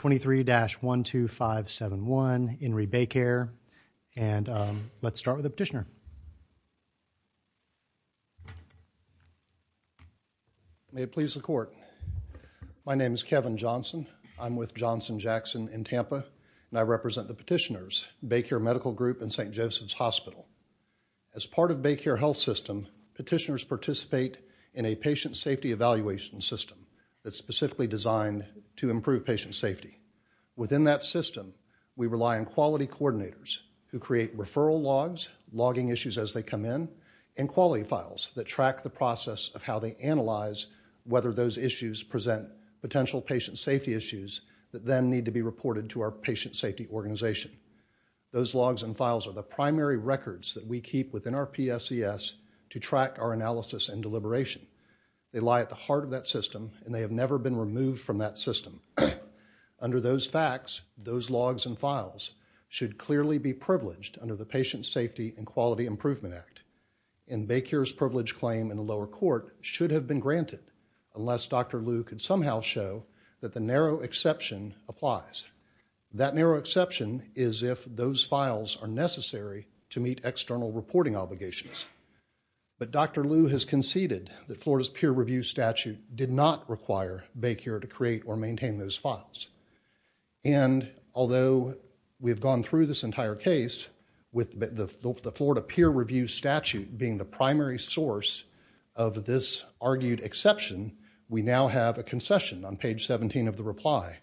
23-12571, In re. BayCare. And let's start with the petitioner. May it please the court. My name is Kevin Johnson. I'm with Johnson Jackson in Tampa, and I represent the petitioners, BayCare Medical Group and St. Joseph's Hospital. As part of BayCare Health System, petitioners participate in a patient safety evaluation system that's specifically designed to improve patient safety. Within that system, we rely on quality coordinators who create referral logs, logging issues as they come in, and quality files that track the process of how they analyze whether those issues present potential patient safety issues that then need to be reported to our patient safety organization. Those logs and files are the primary records that we keep within our PSES to track our analysis and deliberation. They lie at the heart of that system, and they have never been removed from that system. Under those facts, those logs and files should clearly be privileged under the Patient Safety and Quality Improvement Act. And BayCare's privilege claim in the lower court should have been granted, unless Dr. Liu could somehow show that the narrow exception applies. That narrow exception is if those files are necessary to meet external reporting obligations. But Dr. Liu has conceded that Florida's peer review statute did not require BayCare to create or maintain those files. And although we've gone through this entire case with the Florida peer review statute being the primary source of this argued exception, we now have a concession on page 17 of the reply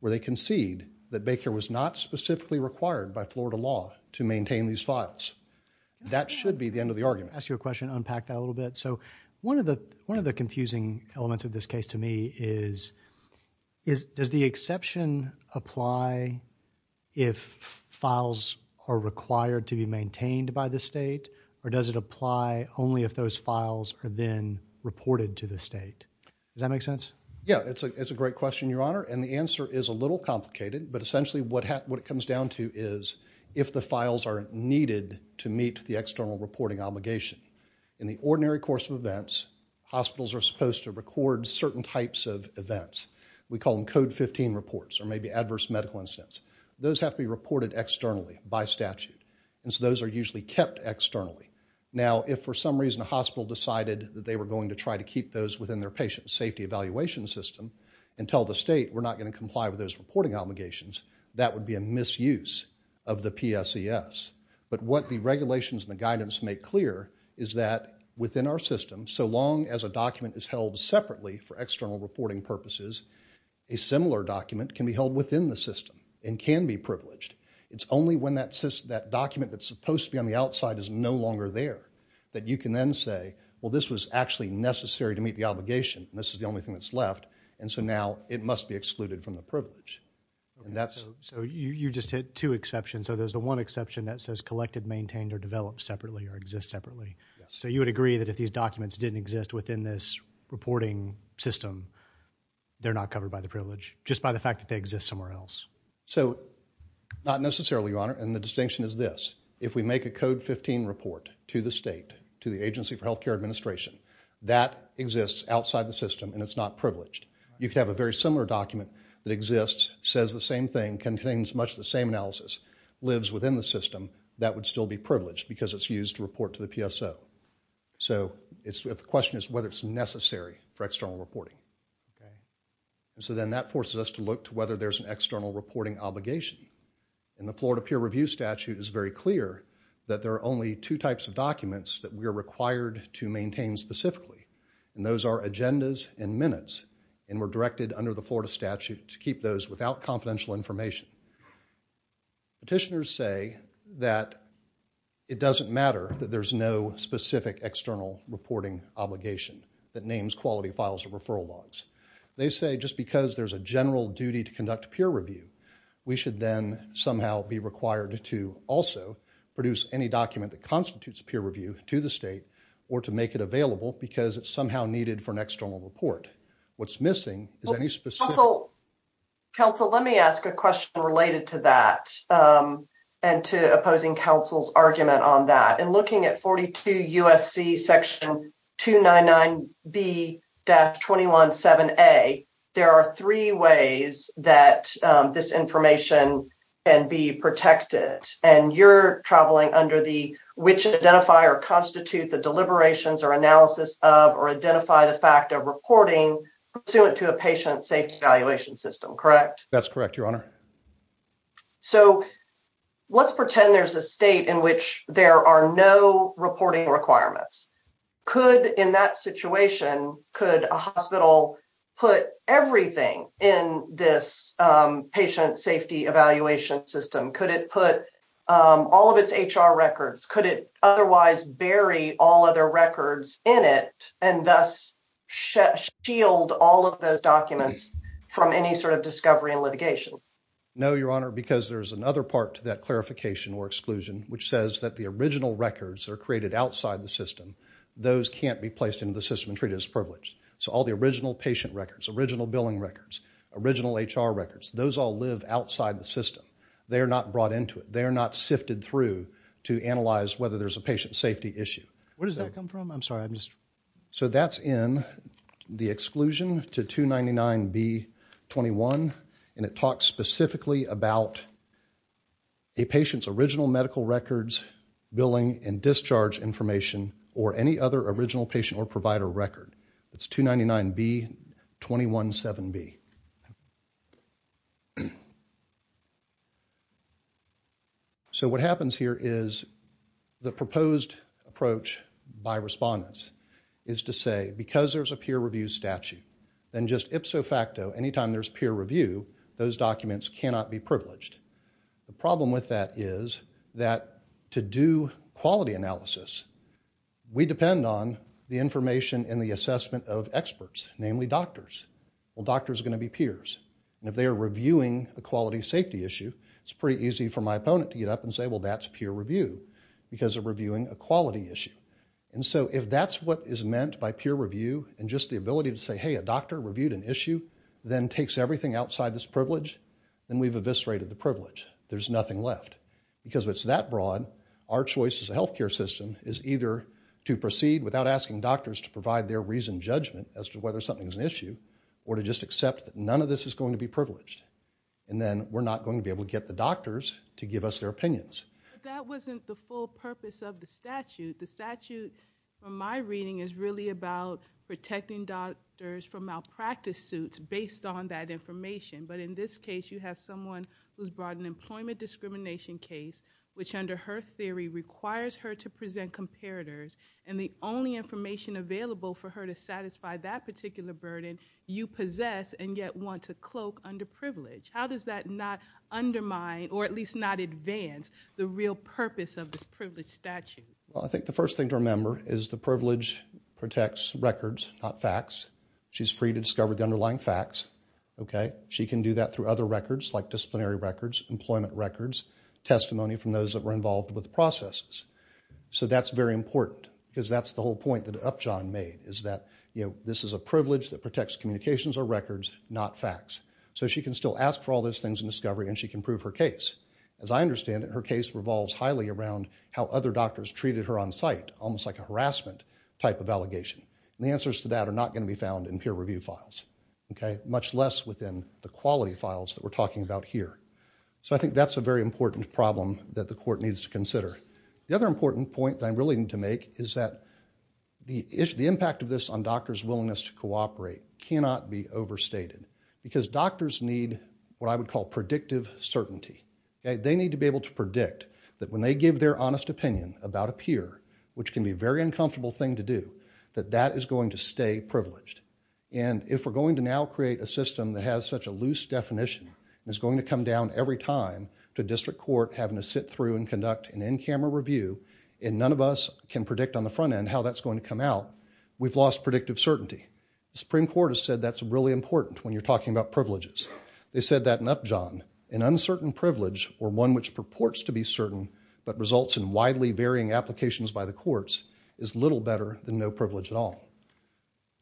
where they concede that BayCare was not specifically required by Florida law to maintain these files. That should be the end of the argument. I'll ask you a question, unpack that a little bit. So one of the confusing elements of this case to me is, does the exception apply if files are required to be maintained by the state, or does it apply only if those files are then reported to the state? Does that make sense? Yeah, it's a great question, Your Honor. And the answer is a little complicated, but essentially what it comes down to is if the files are needed to meet the external reporting obligation. In the ordinary course of events, hospitals are supposed to record certain types of events. We call them code 15 reports, or maybe adverse medical incidents. Those have to be reported externally by statute. And so those are usually kept externally. Now if for some reason a hospital decided that they were going to try to keep those within their patient safety evaluation system and tell the state we're not gonna comply with those reporting obligations, that would be a misuse of the PSES. But what the regulations and the guidance make clear is that within our system, so long as a document is held separately for external reporting purposes, a similar document can be held within the system and can be privileged. It's only when that document that's supposed to be on the outside is no longer there that you can then say, well this was actually necessary to meet the obligation, and this is the only thing that's left, and so now it must be excluded from the privilege. So you just hit two exceptions. So there's the one exception that says collected, maintained, or developed separately, or exists separately. So you would agree that if these documents didn't exist within this reporting system, they're not covered by the privilege, just by the fact that they exist somewhere else. So not necessarily, Your Honor, and the distinction is this. If we make a Code 15 report to the state, to the Agency for Healthcare Administration, that exists outside the system, and it's not privileged. You could have a very similar document that exists, says the same thing, contains much of the same analysis, lives within the system, that would still be privileged, because it's used to report to the PSO. So the question is whether it's necessary for external reporting. So then that forces us to look to whether there's an external reporting obligation, and the Florida Peer Review Statute is very clear that there are only two types of documents that we are required to maintain specifically, and those are agendas and minutes, and were directed under the Florida Statute to keep those without confidential information. Petitioners say that it doesn't matter that there's no specific external reporting obligation that names quality files or referral logs. They say just because there's a general duty to conduct a peer review, we should then somehow be required to also produce any document that constitutes a peer review to the state, or to make it available, because it's somehow needed for an external report. What's missing is any specific... Council, let me ask a question related to that, and to opposing council's argument on that. In looking at 42 USC section 299B-217A, there are three ways that this information can be protected, and you're traveling under the, which identify or constitute the deliberations or analysis of, or identify the fact of, reporting pursuant to a patient safety evaluation system, correct? That's correct, your honor. So let's pretend there's a state in which there are no reporting requirements. Could, in that situation, could a hospital put everything in this patient safety evaluation system? Could it put all of its HR records? Could it otherwise bury all other records in it, and thus shield all of those documents from any sort of discovery and litigation? No, your honor, because there's another part to that clarification or exclusion, which says that the original records that are created outside the system, those can't be placed into the system and treated as privileged. So all the original patient records, original billing records, original HR records, those all live outside the system. They are not brought into it. They are not sifted through to analyze whether there's a patient safety issue. Where does that come from? I'm sorry, I'm just... So that's in the exclusion to 299B21, and it talks specifically about a patient's original medical records, billing, and discharge information, or any other original patient or provider record. It's 299B217B. So what happens here is the proposed approach by respondents is to say, because there's a peer review statute, then just ipso facto, anytime there's peer review, those documents cannot be privileged. The problem with that is that to do quality analysis, we depend on the information and the assessment of experts, namely doctors. Well, doctors are gonna be peers, and if they are reviewing a quality safety issue, it's pretty easy for my opponent to get up and say, well, that's peer review because they're reviewing a quality issue. And so if that's what is meant by peer review, and just the ability to say, hey, a doctor reviewed an issue, then takes everything outside this privilege, then we've eviscerated the privilege. There's nothing left. Because if it's that broad, our choice as a healthcare system is either to proceed without asking doctors to provide their reasoned judgment as to whether something's an issue, or to just accept that none of this is going to be privileged. And then we're not going to be able to get the doctors to give us their opinions. But that wasn't the full purpose of the statute. The statute, from my reading, is really about protecting doctors from malpractice suits based on that information. But in this case, you have someone who's brought an employment discrimination case, which under her theory requires her to present comparators, and the only information available for her to satisfy that particular burden, you possess and yet want to cloak under privilege. How does that not undermine, or at least not advance, the real purpose of this privilege statute? Well, I think the first thing to remember is the privilege protects records, not facts. She's free to discover the underlying facts, okay? She can do that through other records like disciplinary records, employment records, testimony from those that were involved with the processes. So that's very important, because that's the whole point that Upjohn made, is that this is a privilege that protects communications or records, not facts. So she can still ask for all those things in discovery and she can prove her case. As I understand it, her case revolves highly around how other doctors treated her on site, almost like a harassment type of allegation. And the answers to that are not gonna be found in peer review files, okay? Much less within the quality files that we're talking about here. So I think that's a very important problem that the court needs to consider. The other important point that I really need to make is that the impact of this on doctors' willingness to cooperate cannot be overstated, because doctors need what I would call predictive certainty. They need to be able to predict that when they give their honest opinion about a peer, which can be a very uncomfortable thing to do, that that is going to stay privileged. And if we're going to now create a system that has such a loose definition and is going to come down every time to district court having to sit through and conduct an in-camera review, and none of us can predict on the front end how that's going to come out, we've lost predictive certainty. The Supreme Court has said that's really important when you're talking about privileges. They said that in Upjohn, an uncertain privilege or one which purports to be certain but results in widely varying applications by the courts is little better than no privilege at all.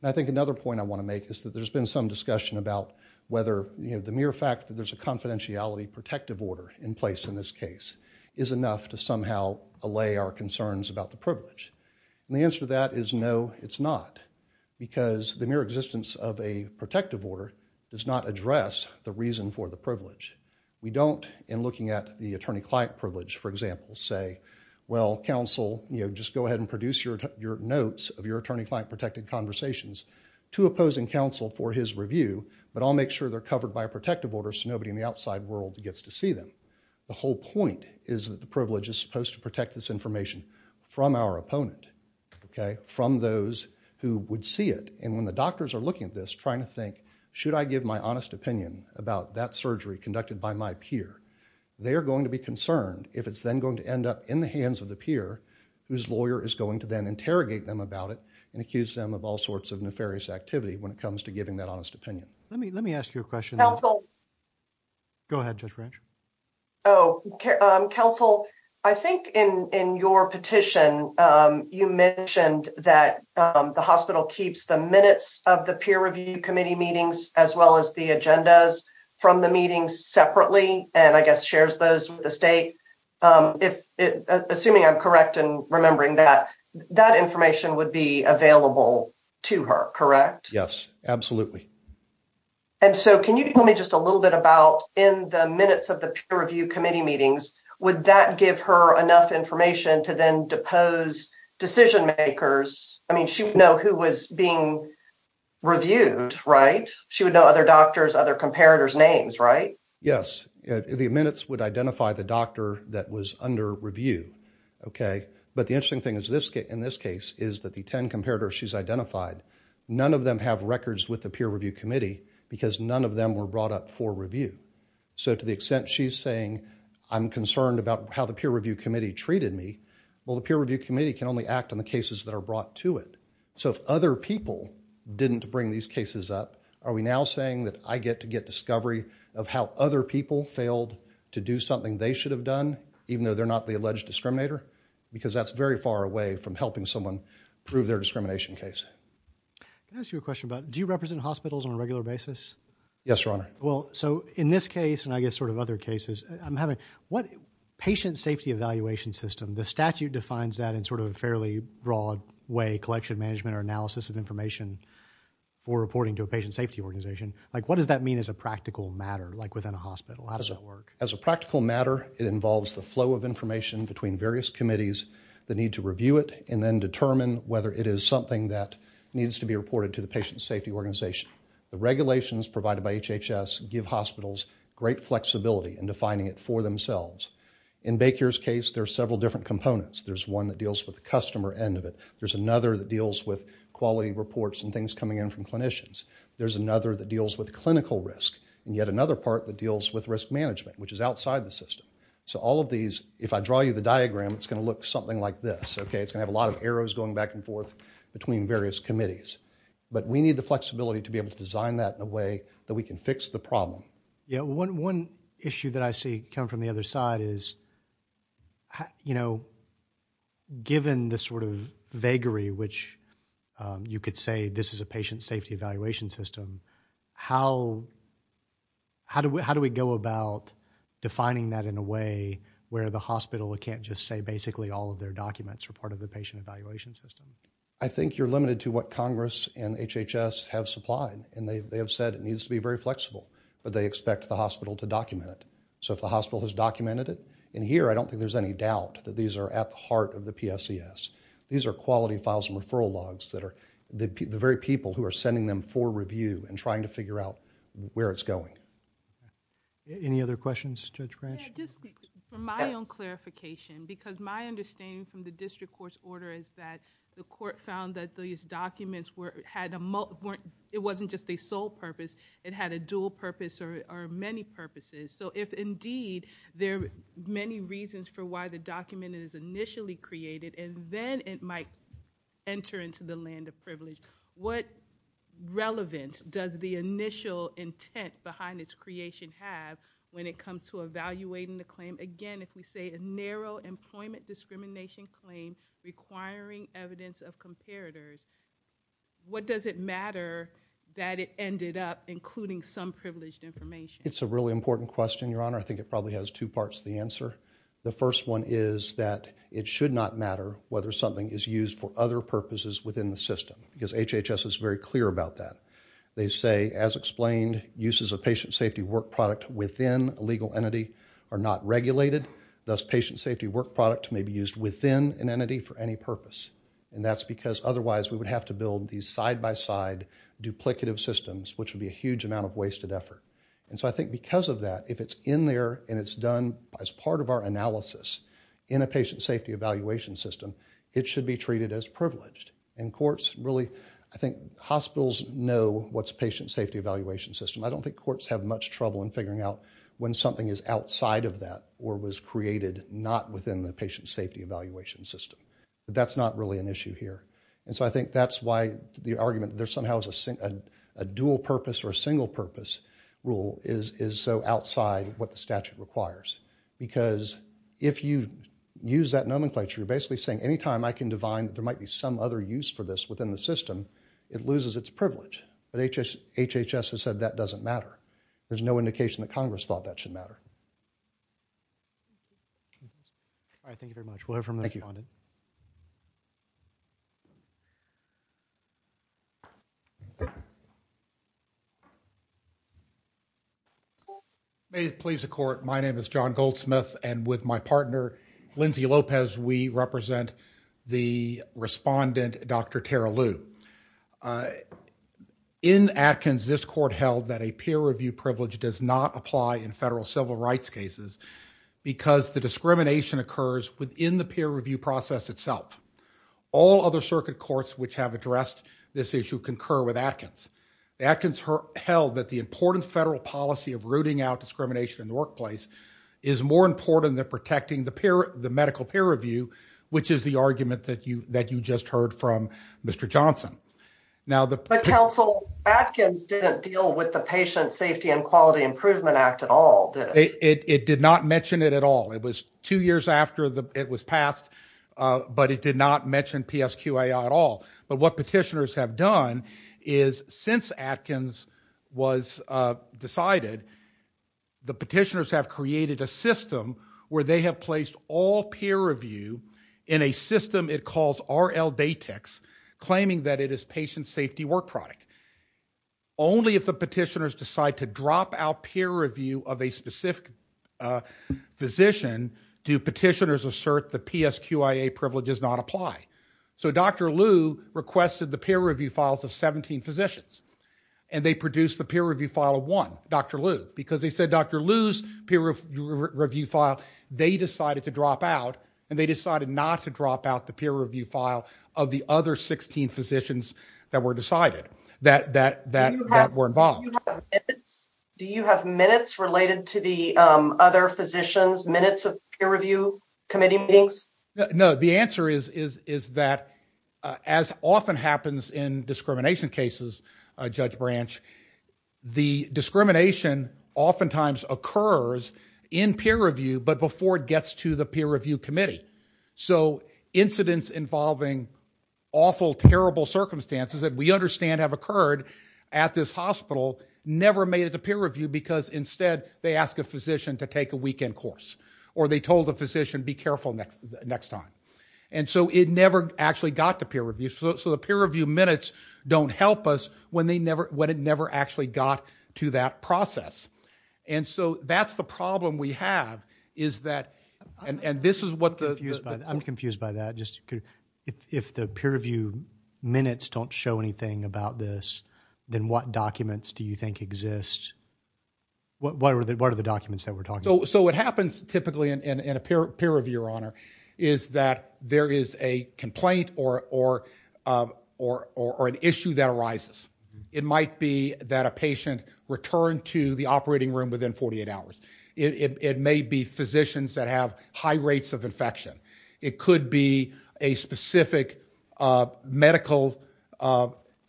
And I think another point I want to make is that there's been some discussion about whether the mere fact that there's a confidentiality protective order in place in this case is enough to somehow allay our concerns about the privilege. And the answer to that is no, it's not, because the mere existence of a protective order does not address the reason for the privilege. We don't, in looking at the attorney-client privilege, for example, say, well, counsel, just go ahead and produce your notes of your attorney-client protected conversations to opposing counsel for his review, but I'll make sure they're covered by a protective order so nobody in the outside world gets to see them. The whole point is that the privilege is supposed to protect this information from our opponent, okay, from those who would see it. And when the doctors are looking at this, trying to think, should I give my honest opinion about that surgery conducted by my peer? They're going to be concerned if it's then going to end up in the hands of the peer whose lawyer is going to then interrogate them about it and accuse them of all sorts of nefarious activity when it comes to giving that honest opinion. Let me ask you a question. Counsel. Go ahead, Judge Branch. Oh, counsel, I think in your petition, you mentioned that the hospital keeps the minutes of the peer review committee meetings as well as the agendas from the meetings separately, and I guess shares those with the state. Assuming I'm correct in remembering that, that information would be available to her, correct? Yes, absolutely. And so can you tell me just a little bit about in the minutes of the peer review committee meetings, would that give her enough information to then depose decision makers? I mean, she would know who was being reviewed, right? She would know other doctors, other comparators' names, right? Yes, the minutes would identify the doctor that was under review, okay? But the interesting thing in this case is that the 10 comparators she's identified, none of them have records with the peer review committee because none of them were brought up for review. So to the extent she's saying I'm concerned about how the peer review committee treated me, well, the peer review committee can only act on the cases that are brought to it. So if other people didn't bring these cases up, are we now saying that I get to get discovery of how other people failed to do something they should have done, even though they're not the alleged discriminator? Because that's very far away from helping someone prove their discrimination case. Can I ask you a question about, do you represent hospitals on a regular basis? Yes, Your Honor. Well, so in this case, and I guess sort of other cases, what patient safety evaluation system, the statute defines that in sort of a fairly broad way, collection management or analysis of information for reporting to a patient safety organization. Like what does that mean as a practical matter, like within a hospital? How does that work? As a practical matter, it involves the flow of information between various committees that need to review it and then determine whether it is something that needs to be reported to the patient safety organization. The regulations provided by HHS give hospitals great flexibility in defining it for themselves. In Baker's case, there are several different components. There's one that deals with the customer end of it. There's another that deals with quality reports and things coming in from clinicians. There's another that deals with clinical risk. And yet another part that deals with risk management, which is outside the system. So all of these, if I draw you the diagram, it's gonna look something like this, okay? It's gonna have a lot of arrows going back and forth between various committees. But we need the flexibility to be able to design that in a way that we can fix the problem. One issue that I see come from the other side is, given the sort of vagary, which you could say this is a patient safety evaluation system, how do we go about defining that in a way where the hospital can't just say basically all of their documents are part of the patient evaluation system? I think you're limited to what Congress and HHS have supplied. And they have said it needs to be very flexible. But they expect the hospital to document it. So if the hospital has documented it, and here I don't think there's any doubt that these are at the heart of the PSES. These are quality files and referral logs that are the very people who are sending them for review and trying to figure out where it's going. Any other questions, Judge Branch? Just for my own clarification, because my understanding from the district court's order is that the court found that these documents were, it wasn't just a sole purpose, it had a dual purpose or many purposes. So if indeed there are many reasons for why the document is initially created and then it might enter into the land of privilege, what relevance does the initial intent behind its creation have when it comes to evaluating the claim? Again, if we say a narrow employment discrimination claim requiring evidence of comparators, what does it matter that it ended up including some privileged information? It's a really important question, Your Honor. I think it probably has two parts to the answer. The first one is that it should not matter whether something is used for other purposes within the system, because HHS is very clear about that. They say, as explained, uses of patient safety work product within a legal entity are not regulated, thus patient safety work product may be used within an entity for any purpose. And that's because otherwise we would have to build these side-by-side duplicative systems, which would be a huge amount of wasted effort. And so I think because of that, if it's in there and it's done as part of our analysis in a patient safety evaluation system, it should be treated as privileged. And courts really, I think hospitals know what's patient safety evaluation system. I don't think courts have much trouble in figuring out when something is outside of that or was created not within the patient safety evaluation system. But that's not really an issue here. And so I think that's why the argument there somehow is a dual purpose or a single purpose rule is so outside what the statute requires. Because if you use that nomenclature, you're basically saying any time I can divine that there might be some other use for this within the system, it loses its privilege. But HHS has said that doesn't matter. There's no indication that Congress thought that should matter. All right, thank you very much. We'll hear from the respondent. May it please the court. My name is John Goldsmith and with my partner, Lindsay Lopez, we represent the respondent, Dr. Tara Liu. In Atkins, this court held that a peer review privilege does not apply in federal civil rights. In federal civil rights cases, because the discrimination occurs within the peer review process itself. All other circuit courts which have addressed this issue concur with Atkins. Atkins held that the important federal policy of rooting out discrimination in the workplace is more important than protecting the medical peer review, which is the argument that you just heard from Mr. Johnson. Now the- But counsel, Atkins didn't deal with the patient safety and quality improvement act at all, did it? It did not mention it at all. It was two years after it was passed, but it did not mention PSQA at all. But what petitioners have done is since Atkins was decided, the petitioners have created a system where they have placed all peer review in a system it calls RLDatex, claiming that it is patient safety work product. Only if the petitioners decide to drop out peer review of a specific physician, do petitioners assert the PSQIA privilege does not apply. So Dr. Liu requested the peer review files of 17 physicians, and they produced the peer review file of one, Dr. Liu, because they said Dr. Liu's peer review file, they decided to drop out, and they decided not to drop out the peer review file of the other 16 physicians that were decided. That were involved. Do you have minutes related to the other physicians, minutes of peer review committee meetings? No, the answer is that as often happens in discrimination cases, Judge Branch, the discrimination oftentimes occurs in peer review, but before it gets to the peer review committee. So incidents involving awful, terrible circumstances that we understand have occurred at this hospital never made it to peer review, because instead they ask a physician to take a weekend course, or they told the physician be careful next time. And so it never actually got to peer review. So the peer review minutes don't help us when it never actually got to that process. And so that's the problem we have, is that, and this is what the- I'm confused by that. If the peer review minutes don't show anything about this, then what documents do you think exist? What are the documents that we're talking about? So what happens typically in a peer review, Your Honor, is that there is a complaint or an issue that arises. It might be that a patient returned to the operating room within 48 hours. It may be physicians that have high rates of infection. It could be a specific medical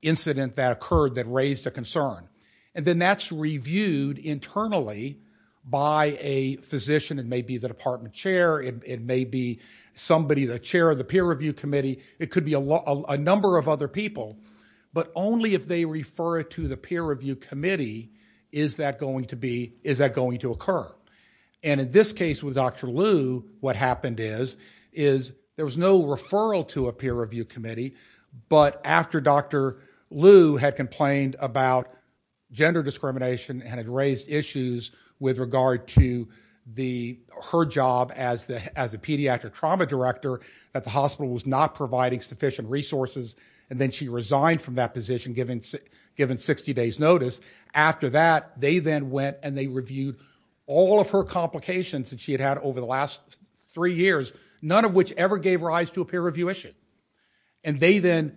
incident that occurred that raised a concern. And then that's reviewed internally by a physician. It may be the department chair. It may be somebody, the chair of the peer review committee. It could be a number of other people. But only if they refer it to the peer review committee is that going to occur. And in this case with Dr. Liu, what happened is, is there was no referral to a peer review committee. But after Dr. Liu had complained about gender discrimination and had raised issues with regard to her job as a pediatric trauma director at the hospital was not providing sufficient resources. And then she resigned from that position given 60 days notice. After that, they then went and they reviewed all of her complications that she had had over the last three years, none of which ever gave rise to a peer review issue. And they then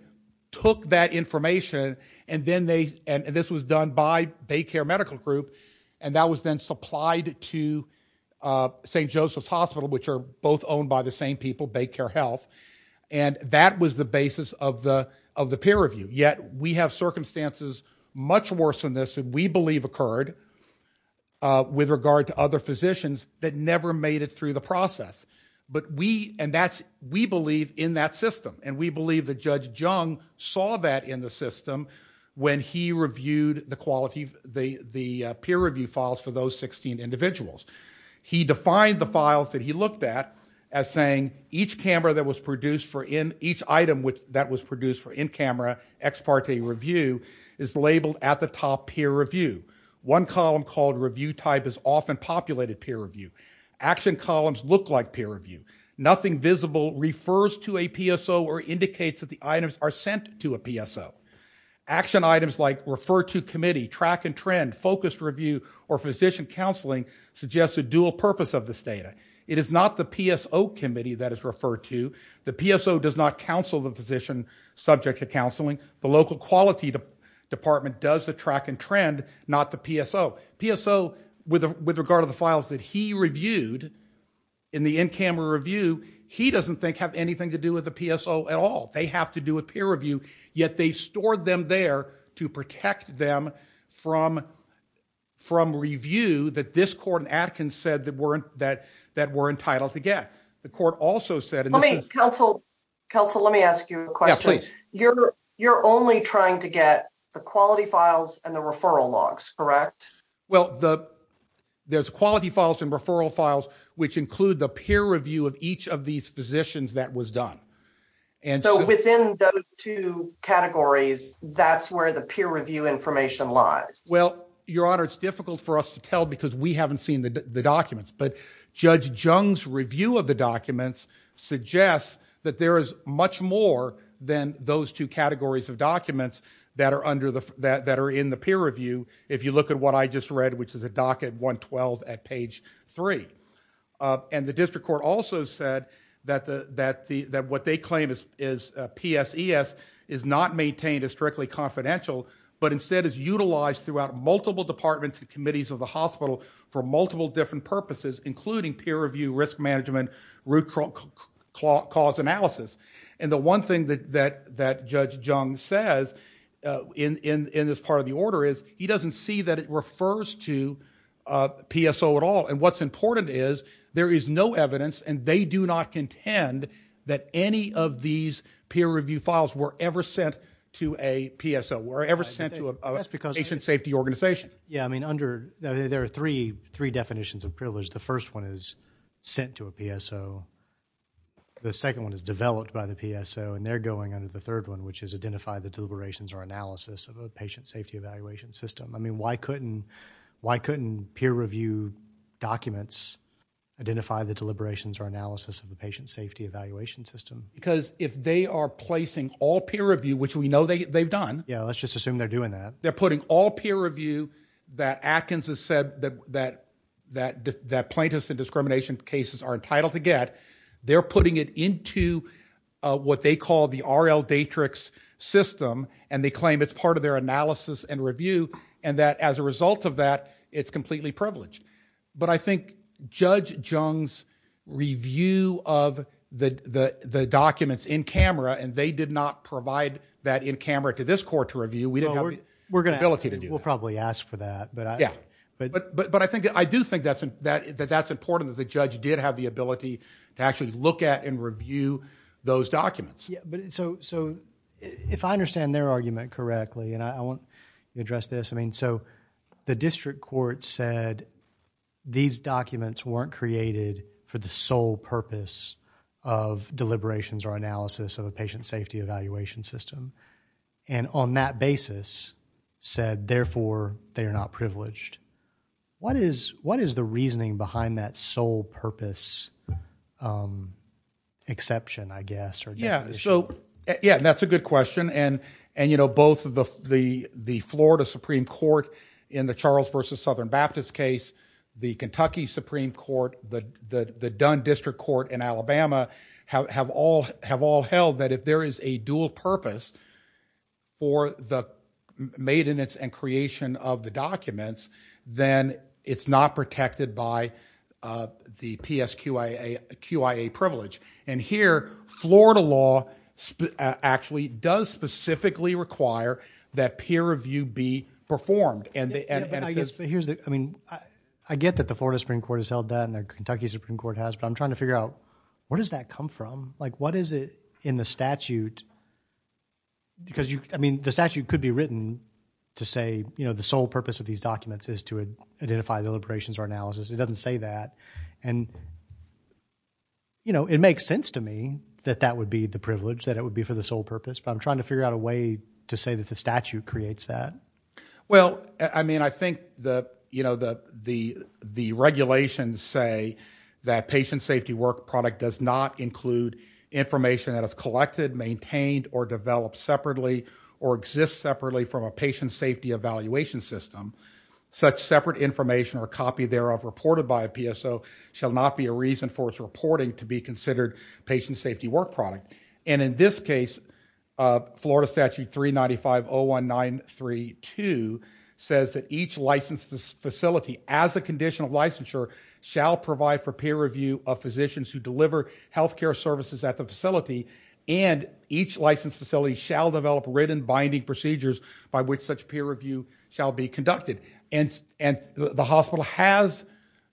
took that information and this was done by BayCare Medical Group. And that was then supplied to St. Joseph's Hospital which are both owned by the same people, BayCare Health. And that was the basis of the peer review. Yet we have circumstances much worse than this that we believe occurred with regard to other physicians that never made it through the process. But we, and that's, we believe in that system. And we believe that Judge Jung saw that in the system when he reviewed the quality, the peer review files for those 16 individuals. He defined the files that he looked at as saying each camera that was produced for in, each item that was produced for in-camera ex parte review is labeled at the top peer review. One column called review type is often populated peer review. Action columns look like peer review. Nothing visible refers to a PSO or indicates that the items are sent to a PSO. Action items like refer to committee, track and trend, focused review, or physician counseling suggests a dual purpose of this data. It is not the PSO committee that is referred to. The PSO does not counsel the physician subject to counseling. The local quality department does the track and trend, not the PSO. PSO, with regard to the files that he reviewed in the in-camera review, he doesn't think have anything to do with the PSO at all. They have to do a peer review, yet they stored them there to protect them from review that this court in Atkins said that we're entitled to get. The court also said, and this is- They're only trying to get the quality files and the referral logs, correct? Well, there's quality files and referral files, which include the peer review of each of these physicians that was done. And so- So within those two categories, that's where the peer review information lies. Well, Your Honor, it's difficult for us to tell because we haven't seen the documents, but Judge Jung's review of the documents suggests that there is much more than those two categories of documents that are in the peer review, if you look at what I just read, which is a docket 112 at page three. And the district court also said that what they claim is PSES is not maintained as strictly confidential, but instead is utilized throughout multiple departments and committees of the hospital for multiple different purposes, including peer review, risk management, root cause analysis. And the one thing that Judge Jung says in this part of the order is he doesn't see that it refers to PSO at all. And what's important is there is no evidence and they do not contend that any of these peer review files were ever sent to a PSO, were ever sent to a patient safety organization. Yeah, I mean, there are three definitions of privilege. The first one is sent to a PSO. The second one is developed by the PSO and they're going under the third one, which is identify the deliberations or analysis of a patient safety evaluation system. I mean, why couldn't peer review documents identify the deliberations or analysis of a patient safety evaluation system? Because if they are placing all peer review, which we know they've done. Yeah, let's just assume they're doing that. They're putting all peer review that Atkins has said that plaintiffs in discrimination cases are entitled to get, they're putting it into what they call the RL Datrix system and they claim it's part of their analysis and review. And that as a result of that, it's completely privileged. But I think Judge Jung's review of the documents in camera and they did not provide that in camera to this court to review. We didn't have the ability to do that. We'll probably ask for that. But I do think that that's important that the judge did have the ability to actually look at and review those documents. Yeah, but so if I understand their argument correctly and I want to address this. I mean, so the district court said these documents weren't created for the sole purpose of deliberations or analysis of a patient safety evaluation system. And on that basis said, therefore they are not privileged. What is the reasoning behind that sole purpose exception, I guess, or definition? Yeah, that's a good question. And both of the Florida Supreme Court in the Charles versus Southern Baptist case, the Kentucky Supreme Court, the Dunn District Court in Alabama have all held that if there is a dual purpose for the maintenance and creation of the documents, then it's not protected by the PSQIA privilege. And here, Florida law actually does specifically require that peer review be performed. And I guess here's the, I mean, I get that the Florida Supreme Court has held that and the Kentucky Supreme Court has, but I'm trying to figure out where does that come from? Like, what is it in the statute because you, I mean, the statute could be written to say the sole purpose of these documents is to identify the deliberations or analysis. It doesn't say that. And it makes sense to me that that would be the privilege, that it would be for the sole purpose, but I'm trying to figure out a way to say that the statute creates that. Well, I mean, I think the regulations say that patient safety work product does not include information that is collected, maintained, or developed separately, or exists separately from a patient safety evaluation system. Such separate information or copy thereof reported by a PSO shall not be a reason for its reporting to be considered patient safety work product. And in this case, Florida Statute 395.01932 says that each licensed facility as a conditional licensure shall provide for peer review of physicians who deliver healthcare services at the facility and each licensed facility shall develop written binding procedures by which such peer review shall be conducted. And the hospital has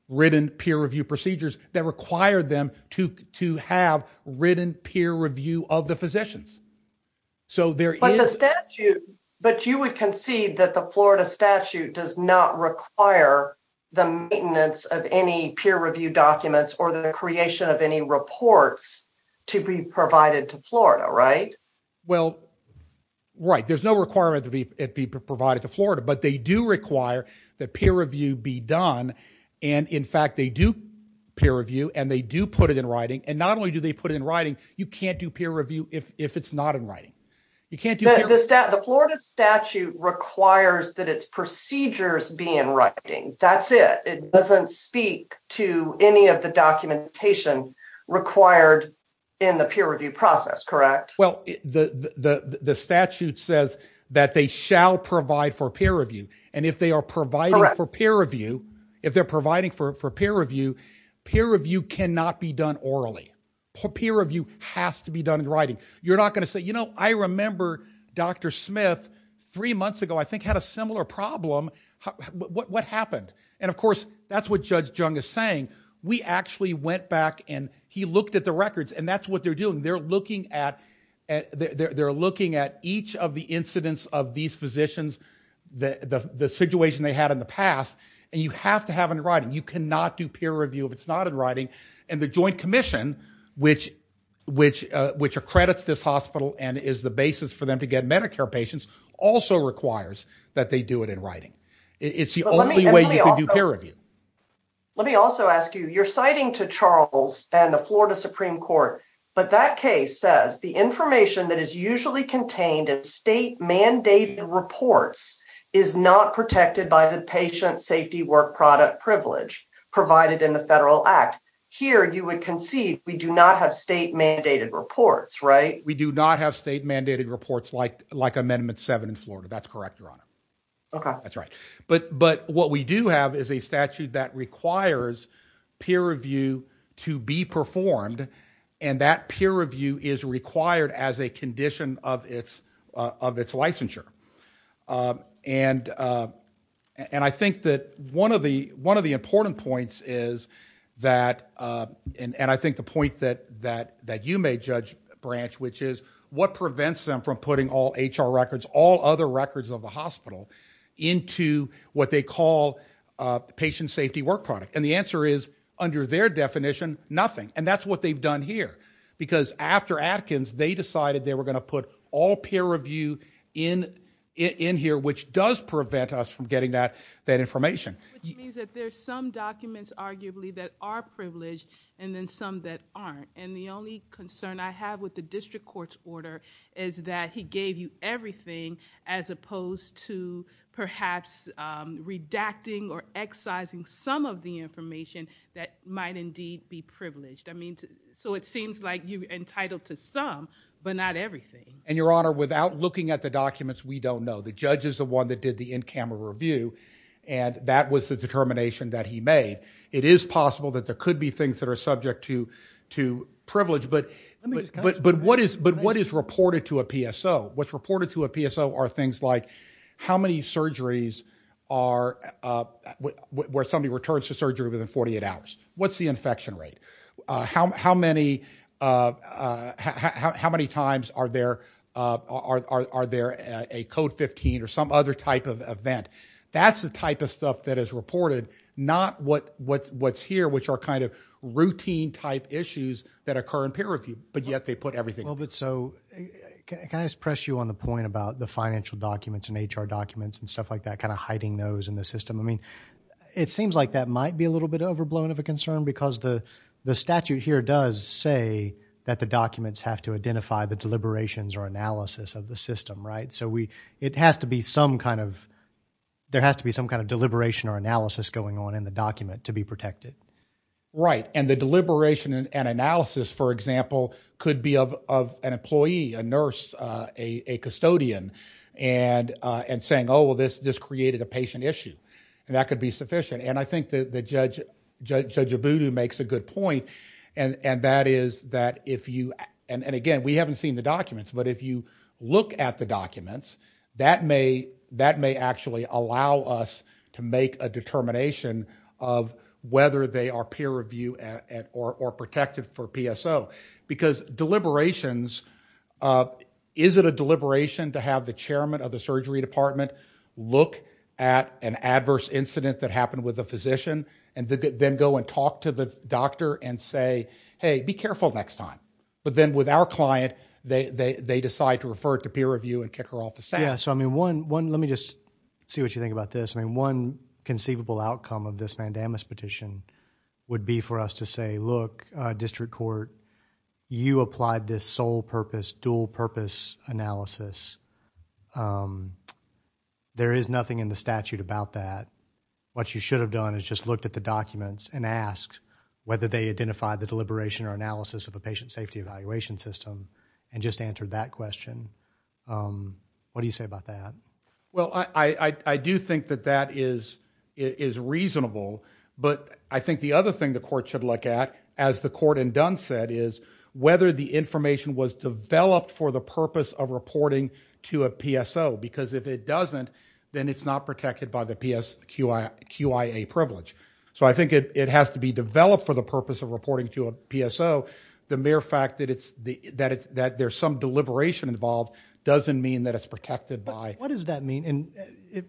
written peer review procedures that require them to have written peer review of the physicians. So there is- But the statute, but you would concede that the Florida statute does not require the maintenance of any peer review documents or the creation of any reports to be provided to Florida, right? Well, right. There's no requirement to be provided to Florida, but they do require that peer review be done. And in fact, they do peer review and they do put it in writing. And not only do they put it in writing, you can't do peer review if it's not in writing. You can't do peer- The Florida statute requires that its procedures be in writing. That's it. It doesn't speak to any of the documentation required in the peer review process, correct? Well, the statute says that they shall provide for peer review. And if they are providing for peer review, if they're providing for peer review, peer review cannot be done orally. Peer review has to be done in writing. You're not gonna say, you know, I remember Dr. Smith three months ago, I think had a similar problem. What happened? And of course, that's what Judge Jung is saying. We actually went back and he looked at the records and that's what they're doing. They're looking at each of the incidents of these physicians, the situation they had in the past, and you have to have in writing. You cannot do peer review if it's not in writing. And the Joint Commission, which accredits this hospital and is the basis for them to get Medicare patients, also requires that they do it in writing. It's the only way you can do peer review. Let me also ask you, you're citing to Charles and the Florida Supreme Court, but that case says the information that is usually contained in state mandated reports is not protected by the patient safety work product privilege provided in the Federal Act. Here, you would conceive we do not have state mandated reports, right? We do not have state mandated reports like Amendment 7 in Florida. That's correct, Your Honor. Okay. That's right. But what we do have is a statute that requires peer review to be performed, and that peer review is required as a condition of its licensure. And I think that one of the important points is that, and I think the point that you made, Judge Branch, which is what prevents them from putting all HR records, all other records of the hospital into what they call patient safety work product. And the answer is, under their definition, nothing. And that's what they've done here. Because after Atkins, they decided they were gonna put all peer review in here, which does prevent us from getting that information. Which means that there's some documents, arguably, that are privileged and then some that aren't. And the only concern I have with the district court's order is that he gave you everything as opposed to perhaps redacting or excising some of the information that might indeed be privileged. I mean, so it seems like you're entitled to some, but not everything. And Your Honor, without looking at the documents, we don't know. The judge is the one that did the in-camera review, and that was the determination that he made. It is possible that there could be things that are subject to privilege, but what is reported to a PSO? What's reported to a PSO are things like, how many surgeries are, where somebody returns to surgery within 48 hours? What's the infection rate? How many times are there a code 15 or some other type of event? That's the type of stuff that is reported, not what's here, which are kind of routine type issues that occur in peer review, but yet they put everything. Well, but so, can I just press you on the point about the financial documents and HR documents and stuff like that, kind of hiding those in the system? I mean, it seems like that might be a little bit overblown of a concern because the statute here does say that the documents have to identify the deliberations or analysis of the system, right? So it has to be some kind of, there has to be some kind of deliberation or analysis going on in the document to be protected. Right, and the deliberation and analysis, for example, could be of an employee, a nurse, a custodian, and saying, oh, well, this created a patient issue, and that could be sufficient. And I think that Judge Abudu makes a good point, and that is that if you, and again, we haven't seen the documents, but if you look at the documents, that may actually allow us to make a determination of whether they are peer review or protected for PSO. Because deliberations, is it a deliberation to have the chairman of the surgery department look at an adverse incident that happened with a physician, and then go and talk to the doctor and say, hey, be careful next time? But then with our client, they decide to refer it to peer review and kick her off the staff. Yeah, so I mean, one, let me just see what you think about this. I mean, one conceivable outcome of this mandamus petition would be for us to say, look, district court, you applied this sole purpose, dual purpose analysis. There is nothing in the statute about that. What you should have done is just looked at the documents and asked whether they identified the deliberation or analysis of a patient safety evaluation system, and just answered that question. What do you say about that? Well, I do think that that is reasonable, but I think the other thing the court should look at, as the court in Dunn said, is whether the information was developed for the purpose of reporting to a PSO. Because if it doesn't, then it's not protected by the PSQIA privilege. So I think it has to be developed for the purpose of reporting to a PSO. The mere fact that there's some deliberation involved doesn't mean that it's protected by. What does that mean? And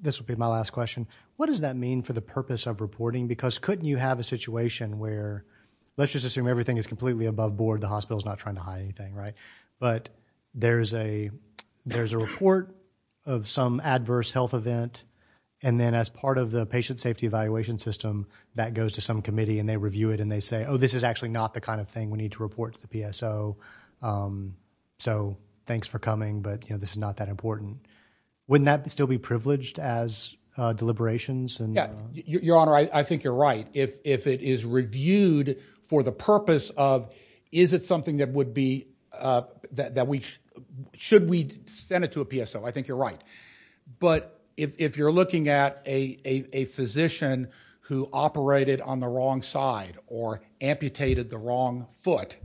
this will be my last question. What does that mean for the purpose of reporting? Because couldn't you have a situation where, let's just assume everything is completely above board, the hospital's not trying to hide anything, right? But there's a report of some adverse health event, and then as part of the patient safety evaluation system, that goes to some committee, and they review it, and they say, oh, this is actually not the kind of thing we need to report to the PSO, so thanks for coming, but this is not that important. Wouldn't that still be privileged as deliberations? Yeah, Your Honor, I think you're right. If it is reviewed for the purpose of, is it something that would be, should we send it to a PSO? I think you're right. But if you're looking at a physician who operated on the wrong side, or amputated the wrong foot,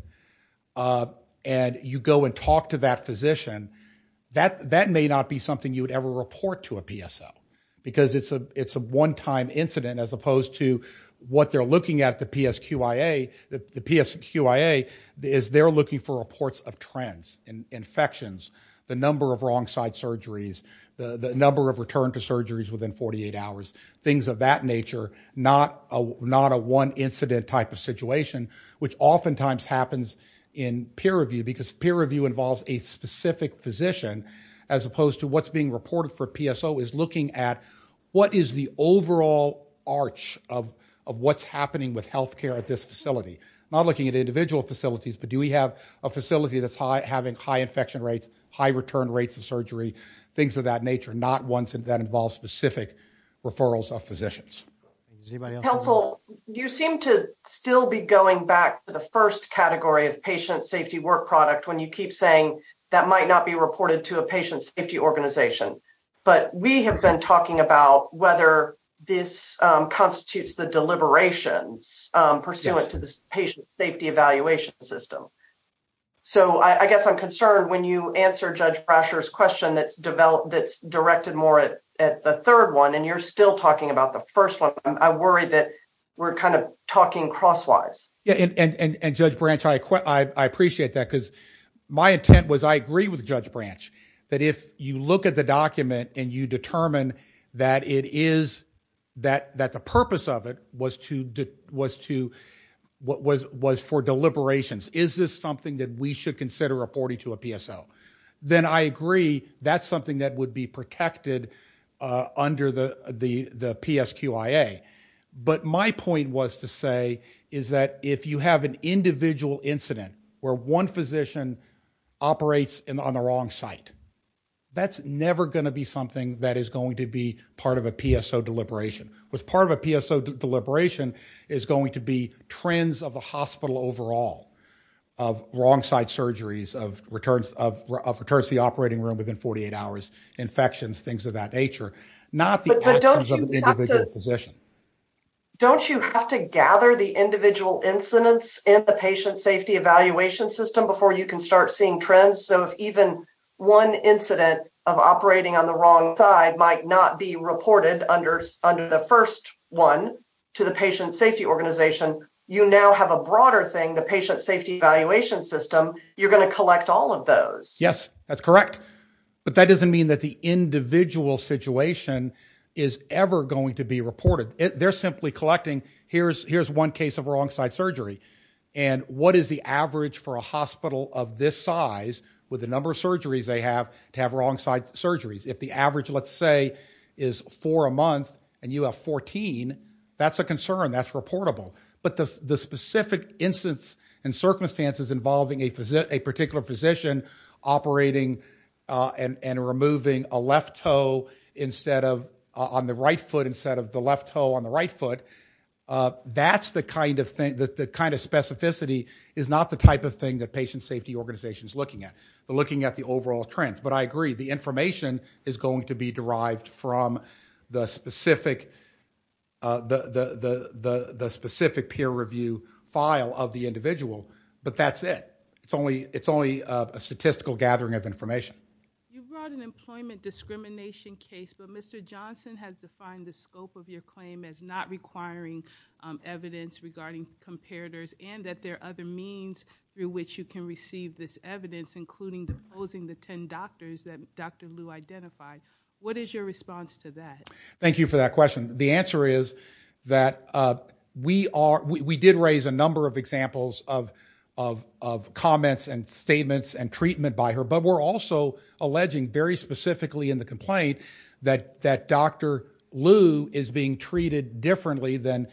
and you go and talk to that physician, that may not be something you would ever report to a PSO, because it's a one-time incident, as opposed to what they're looking at the PSQIA, the PSQIA is they're looking for reports of trends, and infections, the number of wrong side surgeries, the number of return to surgeries within 48 hours, things of that nature, not a one incident type of situation, which oftentimes happens in peer review, because peer review involves a specific physician, as opposed to what's being reported for PSO, is looking at what is the overall arch of what's happening with healthcare at this facility, not looking at individual facilities, but do we have a facility that's having high infection rates, high return rates of surgery, things of that nature, not ones that involve specific referrals of physicians. Does anybody else have a- Counsel, you seem to still be going back to the first category of patient safety work product, when you keep saying that might not be reported to a patient safety organization, but we have been talking about whether this constitutes the deliberations pursuant to the patient safety evaluation system, so I guess I'm concerned when you answer Judge Brasher's question that's directed more at the third one, and you're still talking about the first one, I worry that we're kind of talking crosswise. Yeah, and Judge Branch, I appreciate that, because my intent was I agree with Judge Branch, that if you look at the document and you determine that it is, that the purpose of it was for deliberations, is this something that we should consider reporting to a PSO, then I agree that's something that would be protected under the PSQIA, but my point was to say is that if you have an individual incident where one physician operates on the wrong site, that's never gonna be something that is going to be part of a PSO deliberation. What's part of a PSO deliberation is going to be trends of the hospital overall, of wrong side surgeries, of returns to the operating room within 48 hours, infections, things of that nature, not the actions of the individual physician. Don't you have to gather the individual incidents in the patient safety evaluation system before you can start seeing trends? So if even one incident of operating on the wrong side might not be reported under the first one to the patient safety organization, you now have a broader thing, the patient safety evaluation system, you're gonna collect all of those. Yes, that's correct, but that doesn't mean that the individual situation is ever going to be reported. They're simply collecting, here's one case of wrong side surgery, and what is the average for a hospital of this size with the number of surgeries they have to have wrong side surgeries? If the average, let's say, is four a month, and you have 14, that's a concern, that's reportable, but the specific instance and circumstances involving a particular physician operating and removing a left toe instead of, on the right foot instead of the left toe on the right foot, that's the kind of specificity, is not the type of thing that patient safety organization's looking at. They're looking at the overall trends, but I agree, the information is going to be derived from the specific peer review file of the individual, but that's it. It's only a statistical gathering of information. You brought an employment discrimination case, but Mr. Johnson has defined the scope of your claim as not requiring evidence regarding comparators and that there are other means through which you can receive this evidence, including deposing the 10 doctors that Dr. Liu identified. What is your response to that? Thank you for that question. The answer is that we did raise a number of examples of comments and statements and treatment by her, but we're also alleging very specifically in the complaint that Dr. Liu is being treated differently than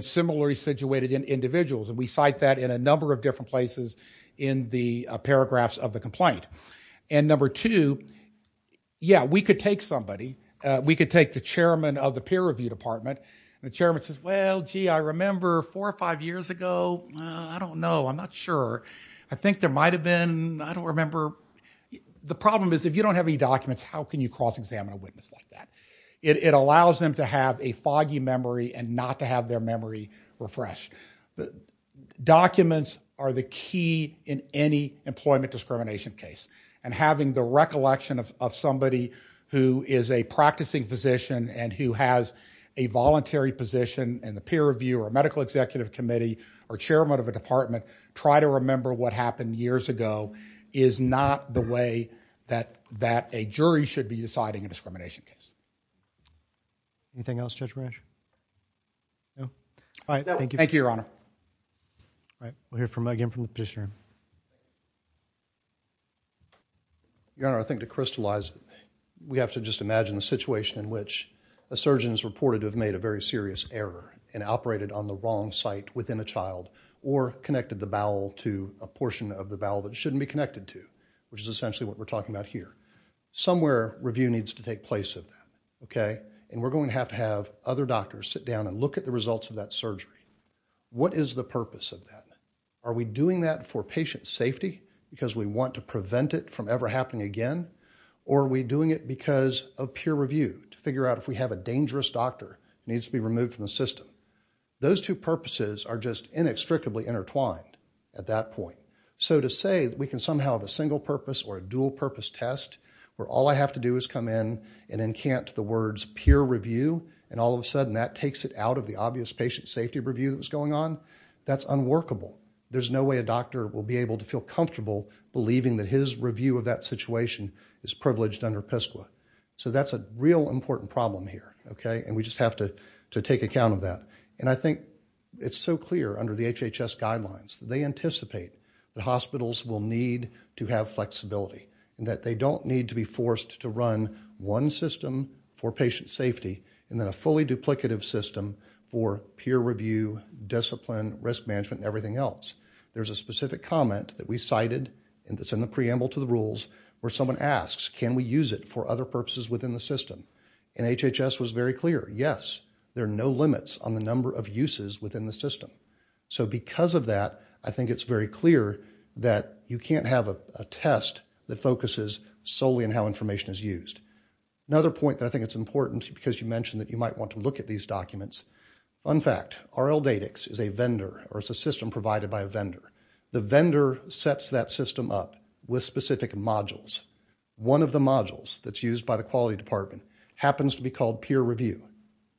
similarly situated individuals, and we cite that in a number of different places in the paragraphs of the complaint. And number two, yeah, we could take somebody, we could take the chairman of the peer review department, and the chairman says, well, gee, I remember four or five years ago, I don't know, I'm not sure. I think there might've been, I don't remember. The problem is if you don't have any documents, how can you cross-examine a witness like that? It allows them to have a foggy memory and not to have their memory refreshed. Documents are the key in any employment discrimination case and having the recollection of somebody who is a practicing physician and who has a voluntary position in the peer review or a medical executive committee or chairman of a department, try to remember what happened years ago is not the way that a jury should be deciding a discrimination case. Anything else, Judge Brash? No? All right, thank you. Thank you, Your Honor. All right, we'll hear again from the petitioner. Your Honor, I think to crystallize, we have to just imagine the situation in which a surgeon is reported to have made a very serious error and operated on the wrong site within a child or connected the bowel to a portion of the bowel that it shouldn't be connected to, which is essentially what we're talking about here. Somewhere, review needs to take place of that, okay? And we're going to have to have other doctors sit down and look at the results of that surgery. What is the purpose of that? Are we doing that for patient safety because we want to prevent it from ever happening again? Or are we doing it because of peer review to figure out if we have a dangerous doctor who needs to be removed from the system? Those two purposes are just inextricably intertwined at that point. So to say that we can somehow have a single-purpose or a dual-purpose test where all I have to do is come in and encant the words peer review, and all of a sudden that takes it out of the obvious patient safety review that was going on, that's unworkable. There's no way a doctor will be able to feel comfortable believing that his review of that situation is privileged under PSCLA. So that's a real important problem here, okay? And we just have to take account of that. And I think it's so clear under the HHS guidelines that they anticipate that hospitals will need to have flexibility, and that they don't need to be forced to run one system for patient safety, and then a fully duplicative system for peer review, discipline, risk management, and everything else. There's a specific comment that we cited and that's in the preamble to the rules where someone asks, can we use it for other purposes within the system? And HHS was very clear, yes, there are no limits on the number of uses within the system. So because of that, I think it's very clear that you can't have a test that focuses solely on how information is used. Another point that I think it's important because you mentioned that you might want to look at these documents. Fun fact, RLDatix is a vendor, or it's a system provided by a vendor. The vendor sets that system up with specific modules. One of the modules that's used by the quality department happens to be called peer review.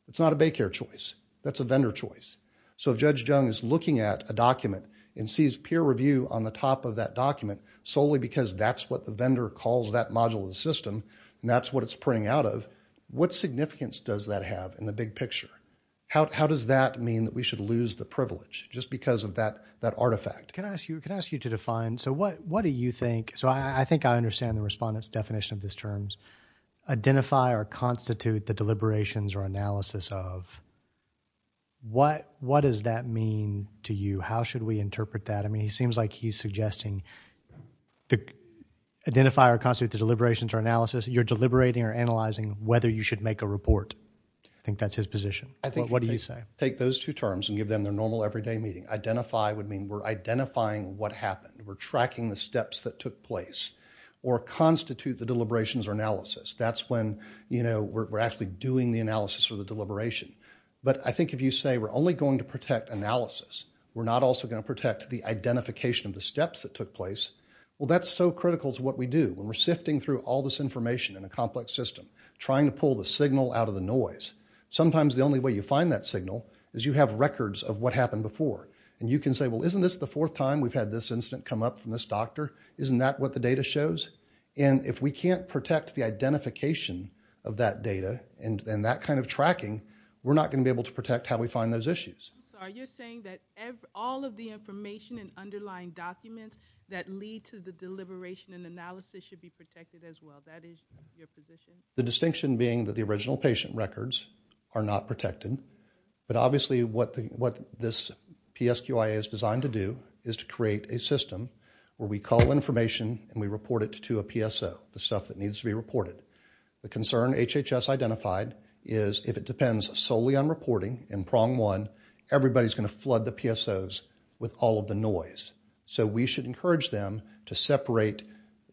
It's not a Baycare choice, that's a vendor choice. So if Judge Jung is looking at a document and sees peer review on the top of that document solely because that's what the vendor calls that module of the system, and that's what it's printing out of, what significance does that have in the big picture? How does that mean that we should lose the privilege just because of that artifact? Can I ask you to define, so what do you think, so I think I understand the respondent's definition of this term, identify or constitute the deliberations or analysis of. What does that mean to you? How should we interpret that? I mean, he seems like he's suggesting identify or constitute the deliberations or analysis. You're deliberating or analyzing whether you should make a report. I think that's his position. I think, take those two terms and give them their normal everyday meeting. Identify would mean we're identifying what happened. We're tracking the steps that took place. Or constitute the deliberations or analysis. That's when we're actually doing the analysis or the deliberation. But I think if you say we're only going to protect analysis, we're not also gonna protect the identification of the steps that took place, well, that's so critical to what we do. When we're sifting through all this information in a complex system, trying to pull the signal out of the noise, sometimes the only way you find that signal is you have records of what happened before. And you can say, well, isn't this the fourth time we've had this incident come up from this doctor? Isn't that what the data shows? And if we can't protect the identification of that data and that kind of tracking, we're not gonna be able to protect how we find those issues. So are you saying that all of the information and underlying documents that lead to the deliberation and analysis should be protected as well? That is your position? The distinction being that the original patient records are not protected. But obviously what this PSQIA is designed to do is to create a system where we call information and we report it to a PSO, the stuff that needs to be reported. The concern HHS identified is if it depends solely on reporting in prong one, everybody's gonna flood the PSOs with all of the noise. So we should encourage them to separate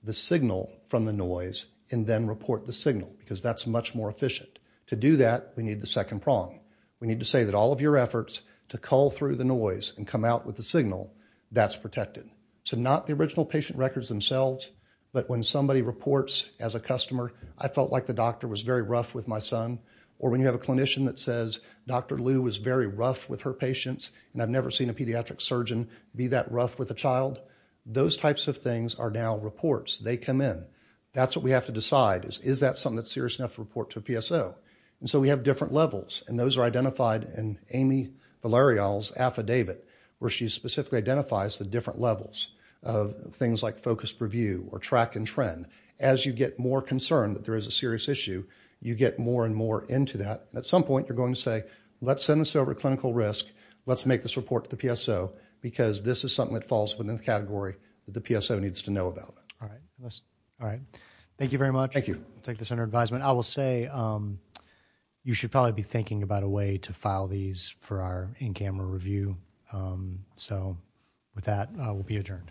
the signal from the noise and then report the signal because that's much more efficient. To do that, we need the second prong. We need to say that all of your efforts to call through the noise and come out with the signal, that's protected. So not the original patient records themselves, but when somebody reports as a customer, I felt like the doctor was very rough with my son, or when you have a clinician that says, Dr. Liu was very rough with her patients and I've never seen a pediatric surgeon be that rough with a child, those types of things are now reports. They come in. That's what we have to decide is, is that something that's serious enough to report to a PSO? And so we have different levels and those are identified in Amy Valerio's affidavit where she specifically identifies the different levels of things like focused review or track and trend. As you get more concerned that there is a serious issue, you get more and more into that. At some point, you're going to say, let's send this over to clinical risk, let's make this report to the PSO because this is something that falls within the category that the PSO needs to know about. All right. Thank you very much. Take this under advisement. I will say you should probably be thinking about a way to file these for our in-camera review. So with that, I will be adjourned.